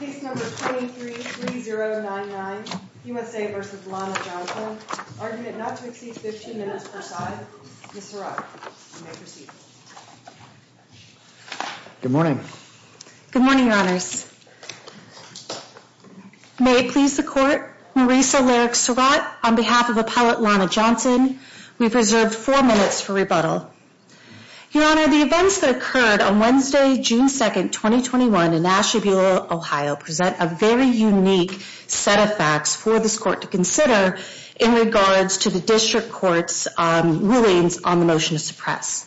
Good morning. Good morning, Your Honors. May it please the court, Marisa Larrick Surratt, on behalf of Appellate Lana Johnson, we've reserved four minutes for rebuttal. Your Honor, the events that occurred on Wednesday, June 2nd, 2021 in Asheville, Ohio, present a very unique set of facts for this court to consider in regards to the district court's rulings on the motion to suppress.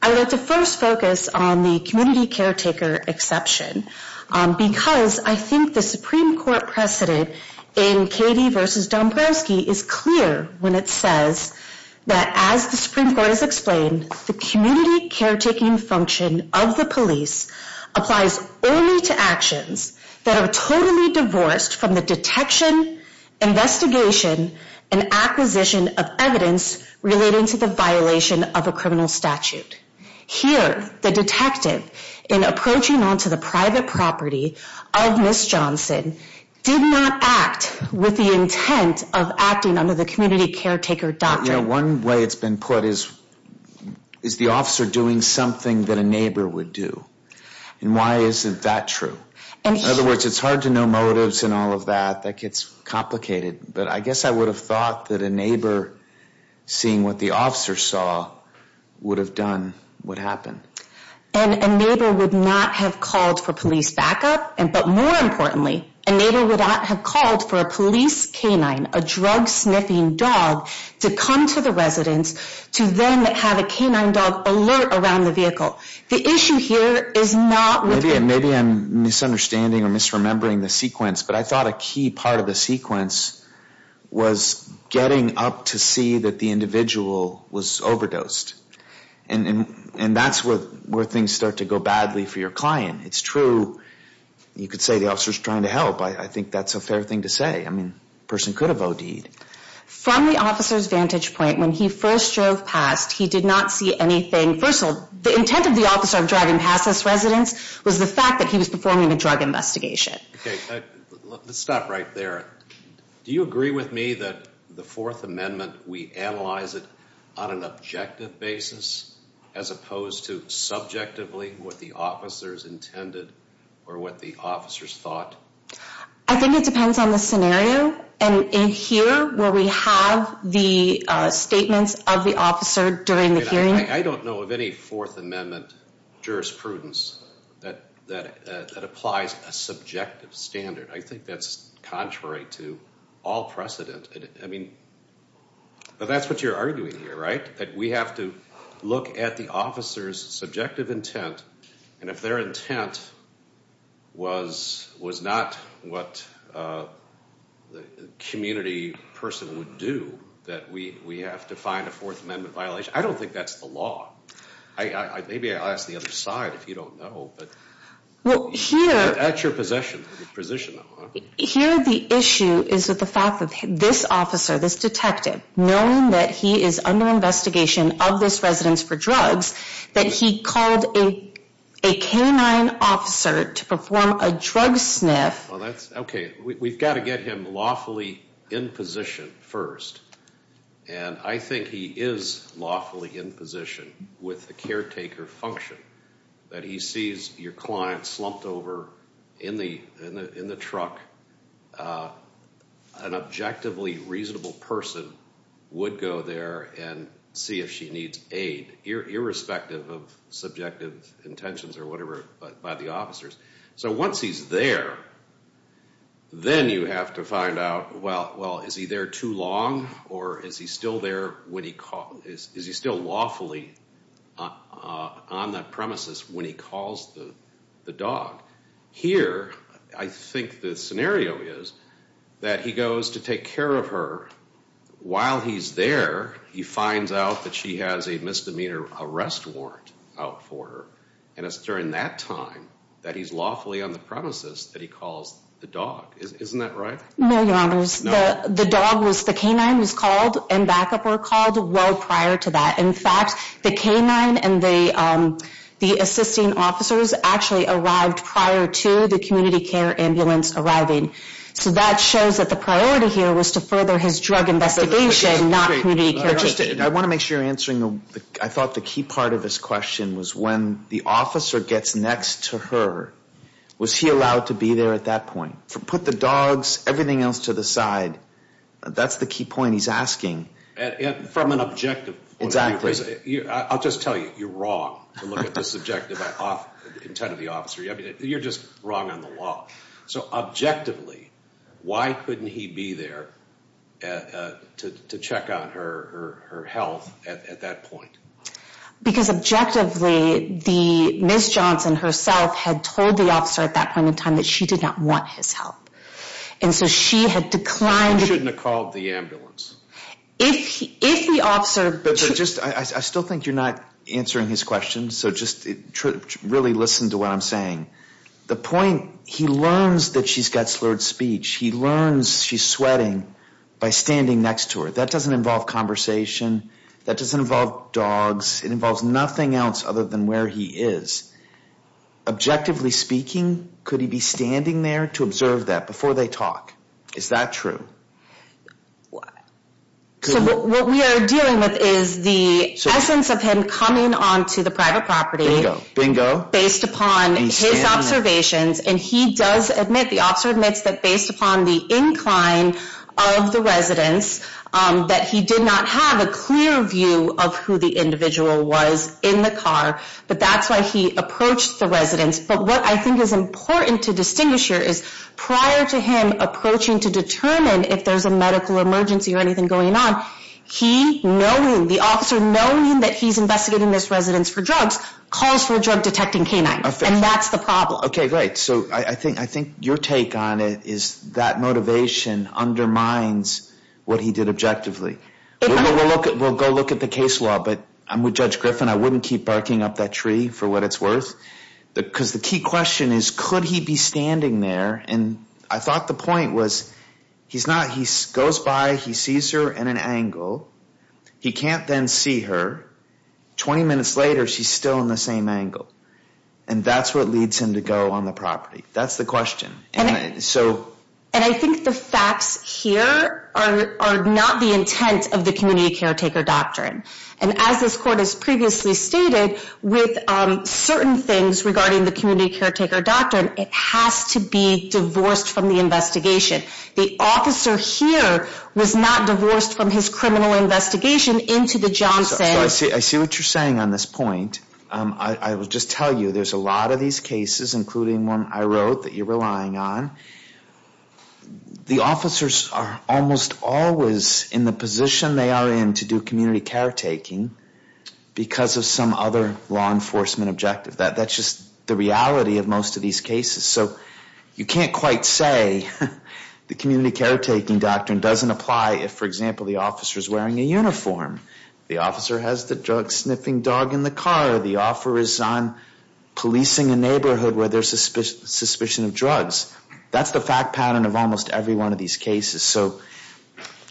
I would like to first focus on the community caretaker exception, because I think the Supreme Court precedent in Cady v. Dombrowski is clear when it says that as the Supreme Court has explained, the community caretaking function of the police applies only to actions that are totally divorced from the detection, investigation, and acquisition of evidence relating to the violation of a criminal statute. Here, the detective in approaching onto the private property of Miss Johnson did not act with the intent of acting under the community caretaker doctrine. One way it's been put is, is the officer doing something that a neighbor would do? And why isn't that true? In other words, it's hard to know motives and all of that, that gets complicated. But I guess I would have thought that a neighbor, seeing what the officer saw, would have done what happened. And a neighbor would not have called for police backup, but more importantly, a neighbor would not have called for a police canine, a drug sniffing dog, to come to the residence to then have a canine dog alert around the vehicle. The issue here is not with... Maybe I'm misunderstanding or misremembering the sequence, but I thought a key part of the sequence was getting up to see that the individual was overdosed. And that's where things start to go badly for your client. It's true, you could say the officer's trying to help. I think that's a fair thing to say. I mean, a person could have OD'd. From the officer's vantage point, when he first drove past, he did not see anything. First of all, the intent of the officer driving past this residence was the fact that he was performing a drug investigation. Okay, let's stop right there. Do you agree with me that the Fourth Amendment, we analyze it on an objective basis, as opposed to subjectively, what the officers intended or what the officers thought? I think it depends on the scenario. And in here, where we have the statements of the officer during the hearing... I don't know of any Fourth Amendment jurisprudence that applies a subjective standard. I think that's contrary to all precedent. I mean, but that's what you're arguing here, right? That we have to look at the officer's subjective intent. And if their intent was not what a community person would do, that we have to find a Fourth Amendment violation. I don't think that's the law. Maybe I'll ask the other side, if you don't know. Well, here... That's your position. Here, the issue is with the fact that this officer, this detective, knowing that he is under investigation of this residence for drugs, that he called a K-9 officer to perform a drug sniff... Well, that's... Okay, we've got to get him lawfully in position first. And I think he is lawfully in position with the caretaker function, that he sees your client slumped over in the truck. An objectively reasonable person would go there and see if she needs aid, irrespective of subjective intentions or whatever by the officers. So once he's there, then you have to find out, well, is he there too long, or is he still there when he calls... Is he still lawfully on that premises when he calls the dog? Here, I think the scenario is that he goes to take care of her. While he's there, he finds out that she has a misdemeanor arrest warrant out for her. And it's during that time that he's lawfully on the premises that he calls the dog. Isn't that right? No, Your Honors. The dog was... The K-9 was called and backup were called well prior to that. In fact, the K-9 and the assisting officers actually arrived prior to the community care ambulance arriving. So that shows that the priority here was to further his drug investigation, not community care. I want to make sure you're answering... I thought the key part of his question was when the officer gets next to her, was he allowed to be there at that point? Put the dogs, everything else to the side. That's the key point he's asking. From an objective. Exactly. I'll just tell you, you're wrong to look at the subjective intent of the officer. You're just wrong on the law. So objectively, why couldn't he be there to check on her health at that point? Because objectively, the Ms. Johnson herself had told the officer at that point in time that she did not want his help. And so she had declined... She shouldn't have called the ambulance. If the officer... But just, I still think you're not answering his question. So just really listen to what I'm saying. The point, he learns that she's got slurred speech. He learns she's sweating by standing next to her. That doesn't involve conversation. That doesn't involve dogs. It involves nothing else other than where he is. Objectively speaking, could he be standing there to observe that before they talk? Is that true? So what we are dealing with is the essence of him coming onto the private property based upon his observations. And he does admit, the officer admits that based upon the incline of the residents, that he did not have a clear view of who the individual was in the car. But that's why he approached the residents. But what I think is important to distinguish here is prior to him approaching to determine if there's a medical emergency or anything going on, he, knowing, the officer knowing that he's investigating this residence for drugs, calls for a drug detecting canine. And that's the problem. Okay, great. So I think your take on it is that motivation undermines what he did objectively. We'll go look at the case law, but I'm with Judge Griffin. I wouldn't keep barking up that tree for what it's worth. Because the key question is, could he be standing there? And I thought the point was, he's not, he goes by, he sees her in an angle. He can't then see her. 20 minutes later, she's still in the same angle. And that's what leads him to go on the property. That's the question. And so. And I think the facts here are not the intent of the community caretaker doctrine. And as this court has previously stated, with certain things regarding the community caretaker doctrine, it has to be divorced from the investigation. The officer here was not divorced from his criminal investigation into the Johnson. I see, I see what you're saying on this point. I will just tell you there's a lot of these cases, including one I wrote that you're relying on. The officers are almost always in the position they are in to do community caretaking because of some other law enforcement objective. That's just the reality of most of these cases. So you can't quite say the community caretaking doctrine doesn't apply if, for example, the officer's wearing a uniform. The officer has the drug sniffing dog in the car. The offer is on policing a neighborhood where there's suspicion of drugs. That's the fact pattern of almost every one of these cases. So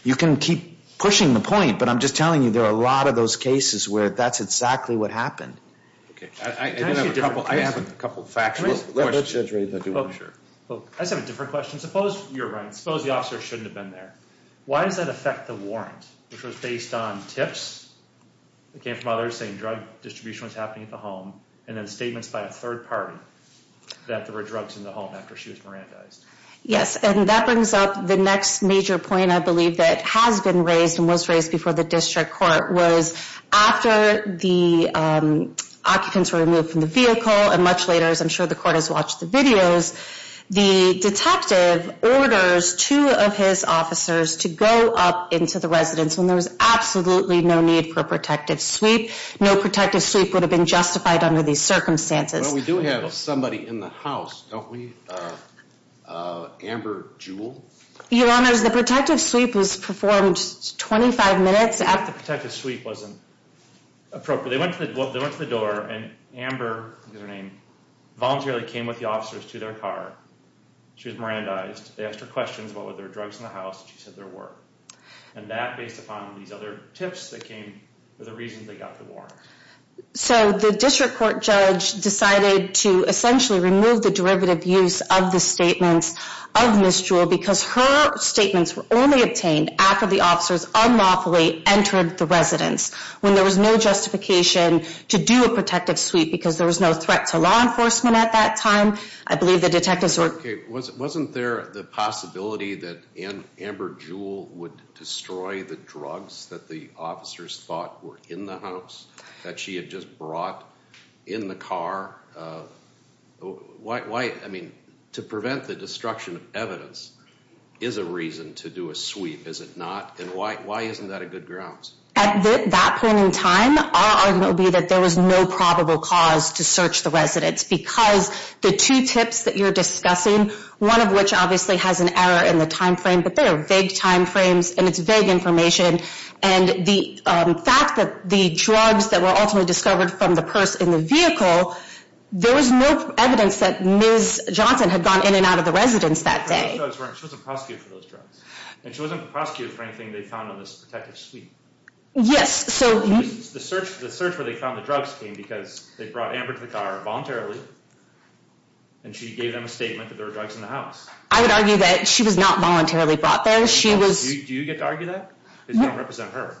you can keep pushing the point, but I'm just telling you there are a lot of those cases where that's exactly what happened. Okay. I have a couple of facts. I just have a different question. Suppose, you're right, suppose the officer shouldn't have been there. Why does that affect the warrant, which was based on tips that came from others saying distribution was happening at the home and then statements by a third party that there were drugs in the home after she was merandized? Yes, and that brings up the next major point I believe that has been raised and was raised before the district court was after the occupants were removed from the vehicle and much later, as I'm sure the court has watched the videos, the detective orders two of his officers to go up into the residence when there was absolutely no need for a protective sweep. No protective sweep would have been justified under these circumstances. Well, we do have somebody in the house, don't we? Amber Jewell? Your honors, the protective sweep was performed 25 minutes after the protective sweep wasn't appropriate. They went to the door and Amber, that's her name, voluntarily came with the officers to their car. She was merandized. They asked her questions. What were there drugs in the house? She said and that based upon these other tips that came for the reasons they got the warrant. So the district court judge decided to essentially remove the derivative use of the statements of Ms. Jewell because her statements were only obtained after the officers unlawfully entered the residence when there was no justification to do a protective sweep because there was no threat to law enforcement at that time. I believe the detectives were... Okay, wasn't there the possibility that Amber Jewell would destroy the drugs that the officers thought were in the house that she had just brought in the car? Why, I mean, to prevent the destruction of evidence is a reason to do a sweep, is it not? And why isn't that a good grounds? At that point in time, our argument would be that there was no probable cause to search the residence because the two tips that you're discussing, one of which obviously has an error in the time frame, but they are vague time frames and it's vague information. And the fact that the drugs that were ultimately discovered from the purse in the vehicle, there was no evidence that Ms. Johnson had gone in and out of the residence that day. She wasn't prosecuted for those drugs. And she wasn't prosecuted for anything they found on this protective sweep. Yes, so... The search where they found the drugs came because they brought Amber to the car voluntarily and she gave them a statement that there were drugs in the house. I would argue that she was not voluntarily brought there. She was... Do you get to argue that? Because you don't represent her.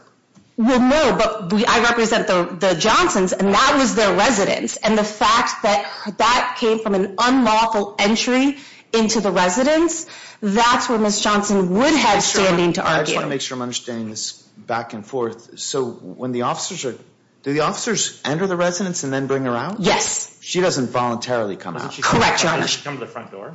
Well, no, but I represent the Johnsons and that was their residence. And the fact that that came from an unlawful entry into the residence, that's where Ms. Johnson would have standing to argue. I just want to make sure I'm understanding this back and forth. So when the officers enter the residence and then bring her out? Yes. She doesn't voluntarily come out? Correct, Your Honor.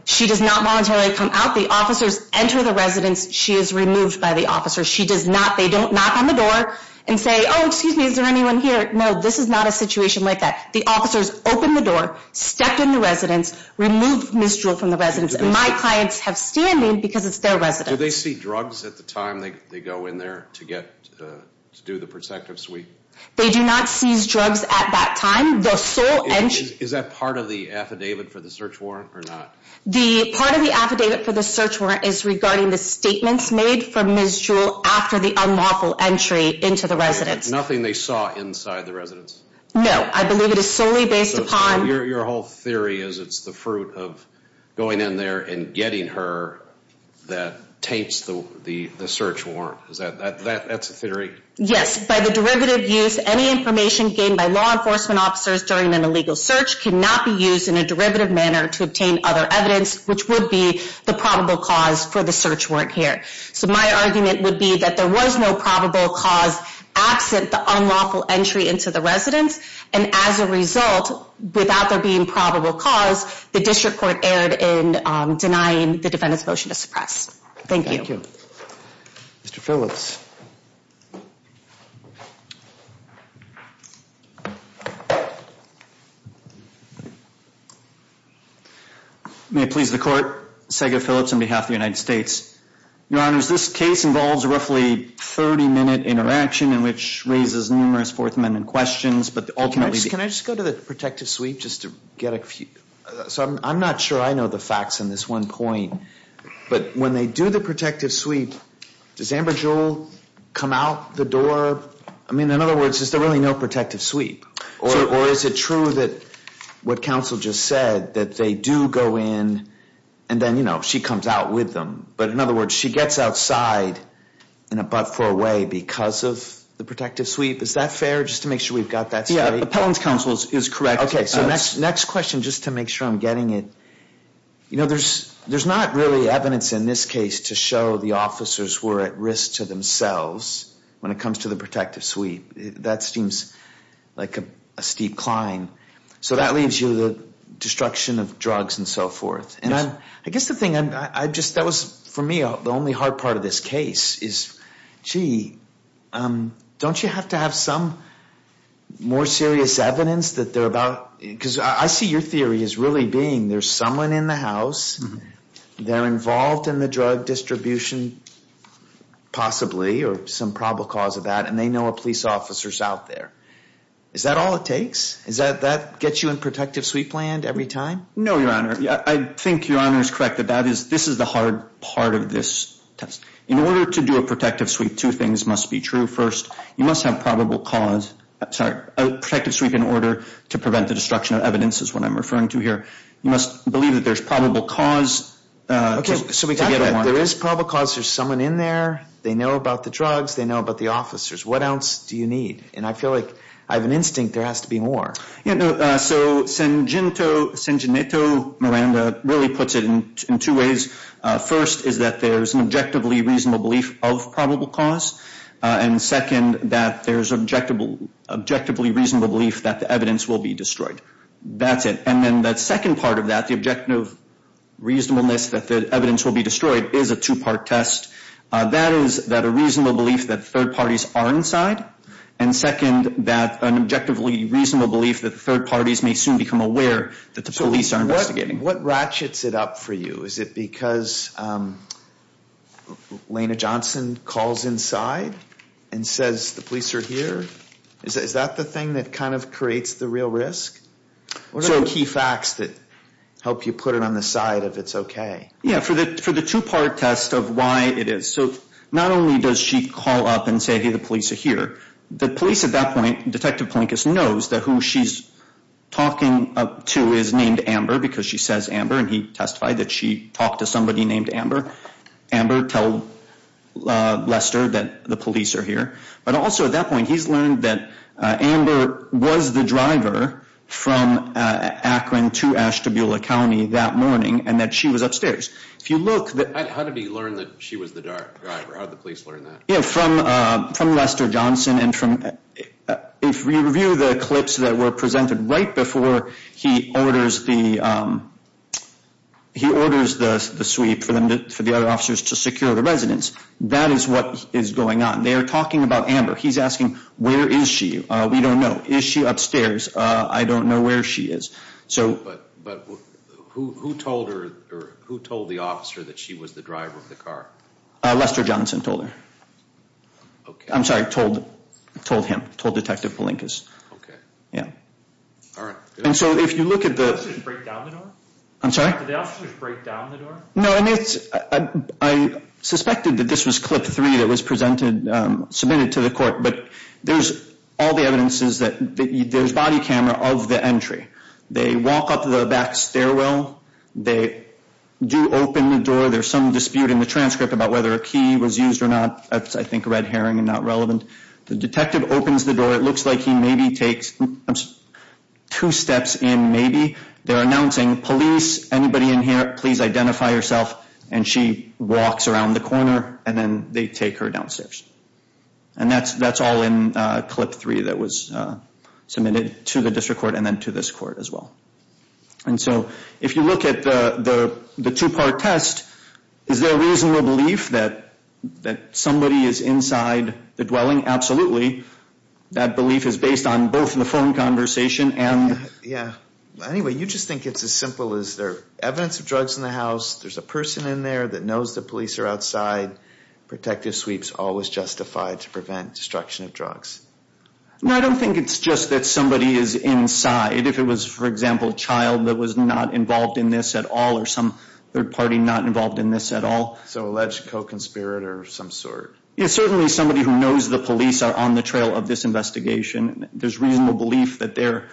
She does not voluntarily come out. The officers enter the residence, she is removed by the officers. She does not, they don't knock on the door and say, oh, excuse me, is there anyone here? No, this is not a situation like that. The officers opened the door, stepped in the residence, removed Ms. Jewel from the residence and my clients have standing because it's their residence. Do they see drugs at the time they go in there to get to do the protective suite? They do not seize drugs at that time. Is that part of the affidavit for the search warrant or not? The part of the affidavit for the search warrant is regarding the statements made from Ms. Jewel after the unlawful entry into the residence. Nothing they saw inside the residence? No, I believe it is solely based upon... So your whole theory is it's the fruit of going in there and getting her that taints the search warrant. That's a theory? Yes. By the derivative use, any information gained by law enforcement officers during an illegal search cannot be used in a derivative manner to obtain other evidence, which would be the probable cause for the search warrant here. So my argument would be that there was no probable cause absent the unlawful entry into the residence and as a result, without there being probable cause, the district court erred in denying the defendant's motion to suppress. Thank you. Thank you. Mr. Phillips. May it please the court, Sega Phillips on behalf of the United States. Your honors, this case involves roughly 30-minute interaction in which raises numerous Fourth Amendment questions, but ultimately... Can I just go to the protective sweep just to get a few... So I'm not sure I know the facts on this one point, but when they do the protective sweep, does Amber Jewel come out the door? I mean, in other words, is there really no protective sweep? Or is it true that what counsel just said, that they do go in and then, you know, she comes out with them? But in other words, she gets outside in a but for a way because of the protective sweep. Is that fair? Just to make sure we've got that... Yeah, appellant's counsel is correct. Okay, so next question, just to make sure I'm getting it. You know, there's not really evidence in this case to show the officers were at risk to themselves when it comes to the protective sweep. That seems like a steep climb. So that leaves you destruction of drugs and so forth. And I guess the thing I just, that was for me, the only hard part of this case is, gee, don't you have to have some more serious evidence that they're about... Because I see your theory as really being there's someone in the house, they're involved in the drug distribution, possibly, or some probable cause of that, and they know a police officer's out there. Is that all it takes? Is that, that gets you in protective sweep land every time? No, your honor. I think your honor is correct. That is, this is the hard part of this test. In order to do a protective sweep, two things must be true. First, you must have probable cause, sorry, a protective sweep in order to prevent the destruction of evidence is what I'm referring to here. You must believe that there's probable cause. Okay, so we got that. There is probable cause. There's someone in there. They know about the drugs. They know about the officers. What else do you need? And I feel like I have an instinct there has to be more. Yeah, no, so Sangineto, Sangineto Miranda really puts it in two ways. First is that there's an objectively reasonable belief of probable cause. And second, that there's an objectively reasonable belief that the evidence will be destroyed. That's it. And then that second part of that, the objective reasonableness that the evidence will be destroyed is a two-part test. That is that a reasonable belief that third parties are inside. And second, that an objectively reasonable belief that third parties may soon become aware that the police are investigating. What ratchets it up for you? Is it because Lena Johnson calls inside and says the police are here? Is that the thing that kind of creates the real risk? What are the key facts that help you put it on the side of it's okay? Yeah, for the the police at that point, Detective Plinkus knows that who she's talking to is named Amber because she says Amber. And he testified that she talked to somebody named Amber. Amber told Lester that the police are here. But also at that point, he's learned that Amber was the driver from Akron to Ashtabula County that morning and that she was upstairs. If you look at the clips that were presented right before he orders the sweep for the other officers to secure the residence, that is what is going on. They're talking about Amber. He's asking, where is she? We don't know. Is she upstairs? I don't know where she is. But who told the officer that she was the driver of the car? Lester Johnson told her. I'm sorry, told him, told Detective Plinkus. Okay. Yeah. All right. And so if you look at the... Did the officers break down the door? I'm sorry? Did the officers break down the door? No, I suspected that this was clip three that was presented, submitted to the court. But there's all the evidences that there's body camera of the They walk up the back stairwell. They do open the door. There's some dispute in the transcript about whether a key was used or not. I think red herring and not relevant. The detective opens the door. It looks like he maybe takes two steps in maybe. They're announcing police, anybody in here, please identify yourself. And she walks around the corner and then they take her downstairs. And that's all in clip three that was submitted to the district court and then to this court as well. And so if you look at the two-part test, is there a reasonable belief that somebody is inside the dwelling? Absolutely. That belief is based on both the phone conversation and... Yeah. Anyway, you just think it's as simple as there evidence of drugs in the house. There's a person in there that knows the police are outside. Protective sweeps always justify to prevent destruction of drugs. I don't think it's just that somebody is inside. If it was, for example, a child that was not involved in this at all or some third party not involved in this at all. So alleged co-conspirator of some sort. It's certainly somebody who knows the police are on the trail of this investigation. There's reasonable belief that they're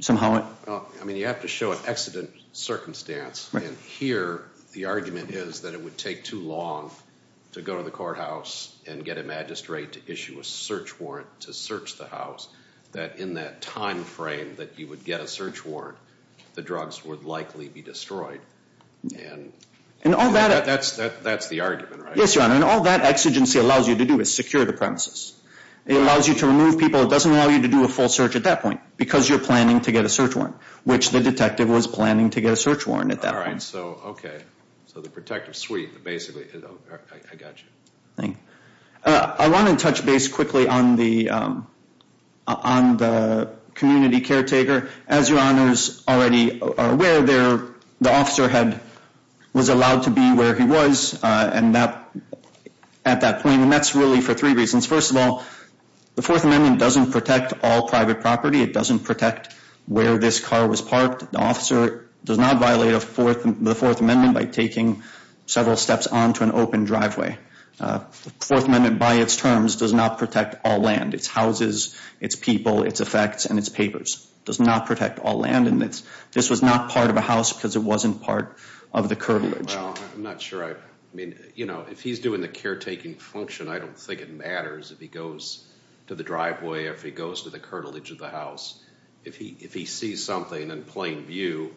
somehow... I mean, you have to show an exigent circumstance. And here, the argument is that it would take too long to go to the courthouse and get a magistrate to issue a search warrant to search the house. That in that time frame that you would get a search warrant, the drugs would likely be destroyed. And all that... That's the argument, right? Yes, Your Honor. And all that exigency allows you to do is secure the premises. It allows you to remove people. It doesn't allow you to do a full search at that because you're planning to get a search warrant, which the detective was planning to get a search warrant at that point. All right. So, okay. So the protective sweep basically... I got you. I want to touch base quickly on the community caretaker. As Your Honors already are aware, the officer was allowed to be where he was at that point. And that's really for three reasons. First of all, the Fourth Amendment doesn't protect all private property. It doesn't protect where this car was parked. The officer does not violate the Fourth Amendment by taking several steps onto an open driveway. The Fourth Amendment by its terms does not protect all land, its houses, its people, its effects, and its papers. It does not protect all land. And this was not part of a house because it wasn't part of the curtilage. Well, I'm not sure I... I mean, you know, if he's doing the caretaking function, I don't think it matters if he goes to the driveway or if he goes to the curtilage of the house. If he sees something in plain view,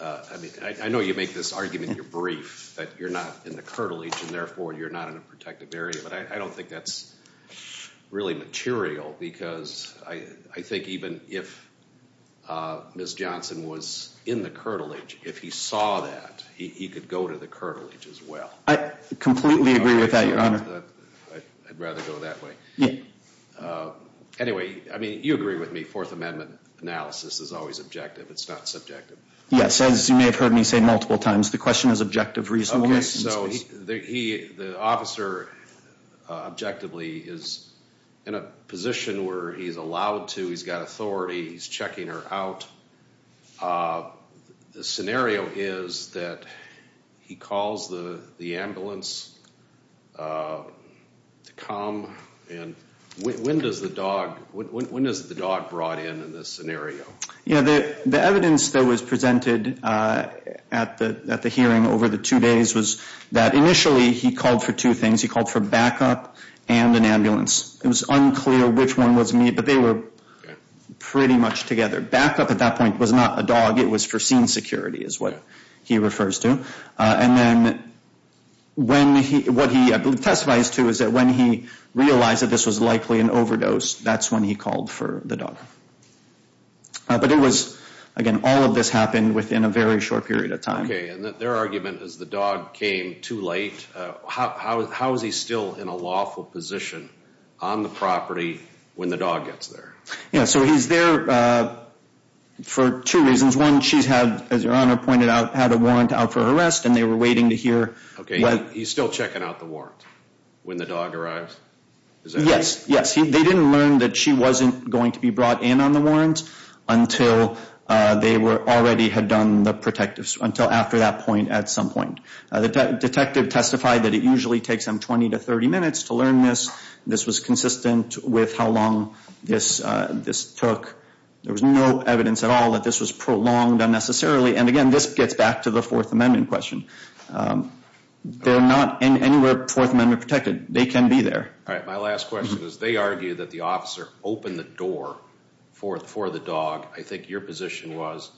I mean, I know you make this argument in your brief that you're not in the curtilage and therefore you're not in a protective area. But I don't think that's really material because I think even if Ms. Johnson was in the curtilage, if he saw that, he could go to the curtilage as well. Completely agree with that, Your Honor. I'd rather go that way. Yeah. Anyway, I mean, you agree with me. Fourth Amendment analysis is always objective. It's not subjective. Yes, as you may have heard me say multiple times, the question is objective, reasonable. The officer, objectively, is in a position where he's allowed to, he's got authority, he's checking her out. The scenario is that he calls the ambulance to come. And when does the dog, when is the dog brought in in this scenario? Yeah, the evidence that was presented at the hearing over the two days was that initially he called for two things. He called for backup and an ambulance. It was unclear which one was but they were pretty much together. Backup at that point was not a dog, it was foreseen security is what he refers to. And then what he testifies to is that when he realized that this was likely an overdose, that's when he called for the dog. But it was, again, all of this happened within a very short period of time. Okay, and their argument is the dog came too late. How is he still in a lawful position on the property when the dog gets there? Yeah, so he's there for two reasons. One, she's had, as your honor pointed out, had a warrant out for her arrest and they were waiting to hear. Okay, he's still checking out the warrant when the dog arrives? Yes, yes. They didn't learn that she wasn't going to be brought in on the warrant until they were already had done the protective, until after that point at some point. The detective testified that it usually takes them 20 to 30 minutes to learn this. This was consistent with how long this took. There was no evidence at all that this was prolonged unnecessarily. And again, this gets back to the Fourth Amendment question. They're not anywhere Fourth Amendment protected. They can be there. All right, my last question is they argue that the officer opened the door for the dog. I think your position was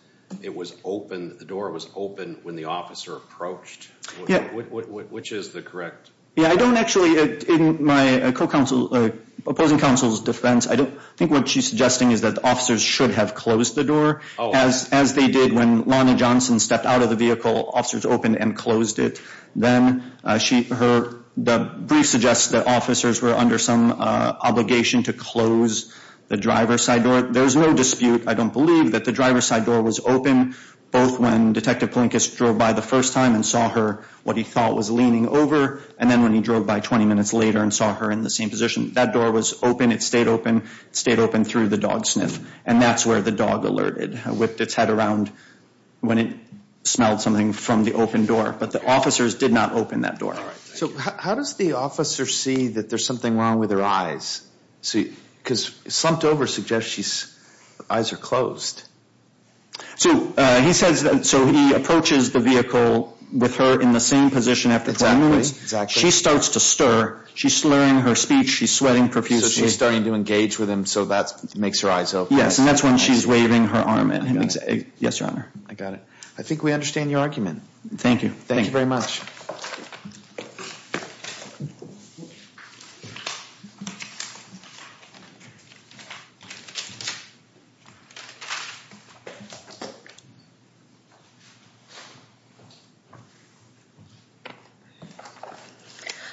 it was open, the door was open when the officer approached. Which is the correct? Yeah, I don't actually, in my opposing counsel's defense, I don't think what she's suggesting is that the officers should have closed the door as they did when Lonnie Johnson stepped out of the vehicle, officers opened and closed it. Then the brief suggests that officers were under some obligation to close the driver's side door. There's no dispute, I don't believe, that the driver's side door was open both when Detective Plinkus drove by the first time and saw her, what he thought was leaning over, and then when he drove by 20 minutes later and saw her in the same position. That door was open, it stayed open, stayed open through the dog sniff. And that's where the dog alerted, whipped its head around when it smelled something from the open door. But the officers did not open that door. All right, so how does the officer see that there's something wrong with her eyes? Because slumped over suggests eyes are closed. So he approaches the vehicle with her in the same position after 20 minutes, she starts to stir, she's slurring her speech, she's sweating profusely. She's starting to engage with him so that makes her eyes open. Yes, and that's when she's waving her arm. Yes, your honor. I got it. I think we understand your argument. Thank you. Thank you very much. Thank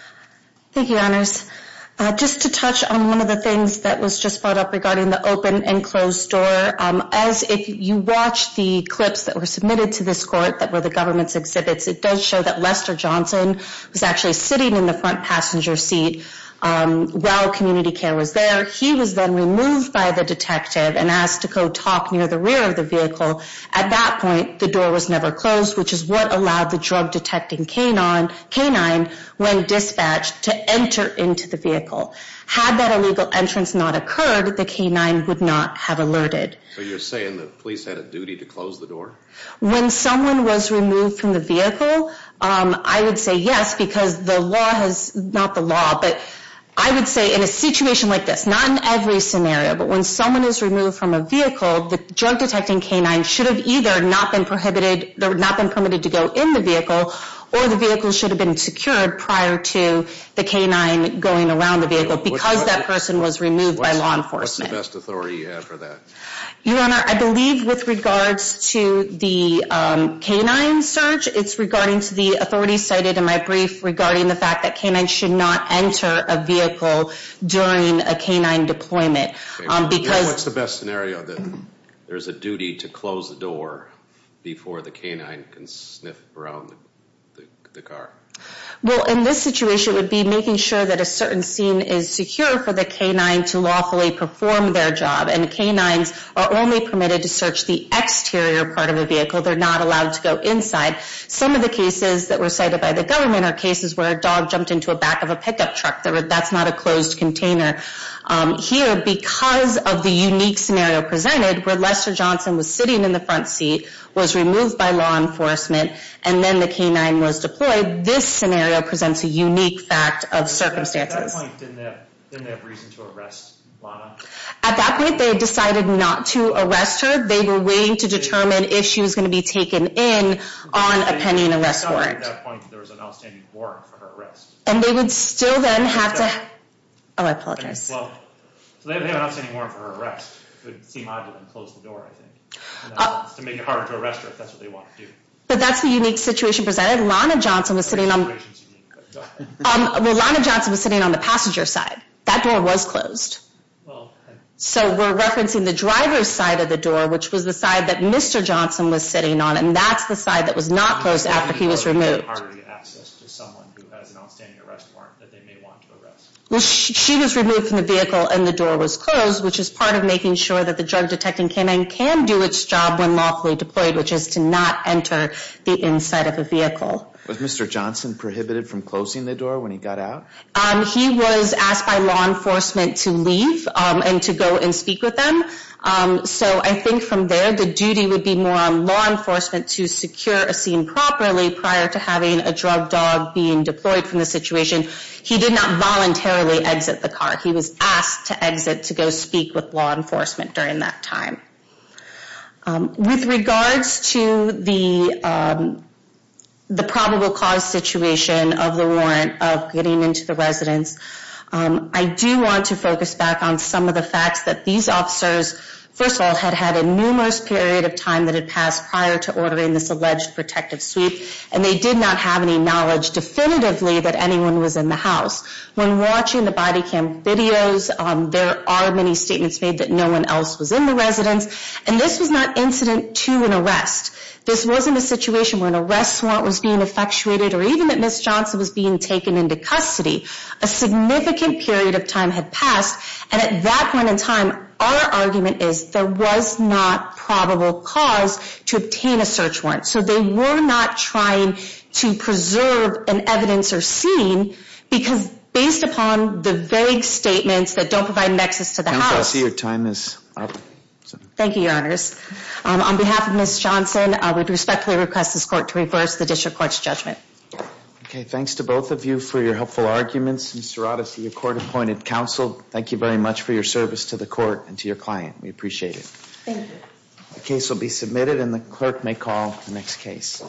you. Thank you, honors. Just to touch on one of the things that was just brought up regarding the open and closed door. As if you watch the clips that were submitted to this court that were the government's exhibits, it does show that Lester Johnson was actually sitting in the front passenger seat while community care was there. He was then removed by the detective and asked to go talk near the rear of the vehicle. At that point, the door was never closed, which is what allowed the drug detecting canine when dispatched to enter into the vehicle. Had that illegal entrance not occurred, the canine would not have alerted. So you're saying the police had a duty to close the door? When someone was removed from the vehicle, I would say yes because the law has, not the law, but I would say in a situation like this, not in every scenario, but when someone is removed from a vehicle, the drug detecting canine should have either not been permitted to go in the vehicle or the vehicle should have been secured prior to the canine going around the vehicle because that person was removed by law enforcement. What's the best authority you have for that? Your Honor, I believe with regards to the canine search, it's regarding to the authority cited in my brief regarding the fact that canines should not enter a vehicle during a canine deployment. What's the best scenario that there's a duty to close the door before the canine can sniff around the car? Well, in this situation, it would be making sure that a certain scene is secure for the canine to lawfully perform their job and canines are only permitted to search the exterior part of a vehicle. They're not allowed to go inside. Some of the cases that were cited by the government are cases where a dog jumped into a back of a pickup truck. That's not a closed container. Here, because of the unique scenario presented where Lester Johnson was sitting in the front seat, was removed by law enforcement, and then the canine was deployed, this scenario presents a unique fact of circumstances. At that point, didn't they have reason to arrest Lana? At that point, they decided not to arrest her. They were waiting to determine if she was going to be taken in on a pending arrest warrant. At that point, there was an outstanding warrant for her arrest. And they would still then have to... Oh, I apologize. Well, so they would have an outstanding warrant for her arrest. It would seem odd to them to close the door, I think, to make it harder to arrest her if that's what they want to do. But that's the unique situation presented. Lana Johnson was sitting on the passenger side. That door was closed. So we're referencing the driver's side of the door, which was the side that Mr. Johnson was sitting on, and that's the side that was not closed after he was removed. She was removed from the vehicle and the door was closed, which is part of making sure that the drug detecting canine can do its job when lawfully from closing the door when he got out? He was asked by law enforcement to leave and to go and speak with them. So I think from there, the duty would be more on law enforcement to secure a scene properly prior to having a drug dog being deployed from the situation. He did not voluntarily exit the car. He was asked to exit to go speak with law enforcement during that time. With regards to the probable cause situation of the warrant of getting into the residence, I do want to focus back on some of the facts that these officers, first of all, had had a numerous period of time that had passed prior to ordering this alleged protective sweep, and they did not have any knowledge definitively that anyone was in the house. When watching the body cam videos, there are many statements made that no one else was in the residence, and this was not incident to an arrest. This wasn't a situation where an arrest warrant was being effectuated or even that Ms. Johnson was being taken into custody. A significant period of time had passed, and at that point in time, our argument is there was not probable cause to obtain a search warrant. So they were not trying to preserve an evidence or scene because based upon the vague statements that don't provide evidence, they were not trying to preserve an evidence or scene. I see your time is up. Thank you, Your Honors. On behalf of Ms. Johnson, I would respectfully request this court to reverse the district court's judgment. Okay, thanks to both of you for your helpful arguments. Ms. Serrata, to your court-appointed counsel, thank you very much for your service to the court and to your client. We appreciate it. Thank you. The case will be submitted and the clerk may call the next case.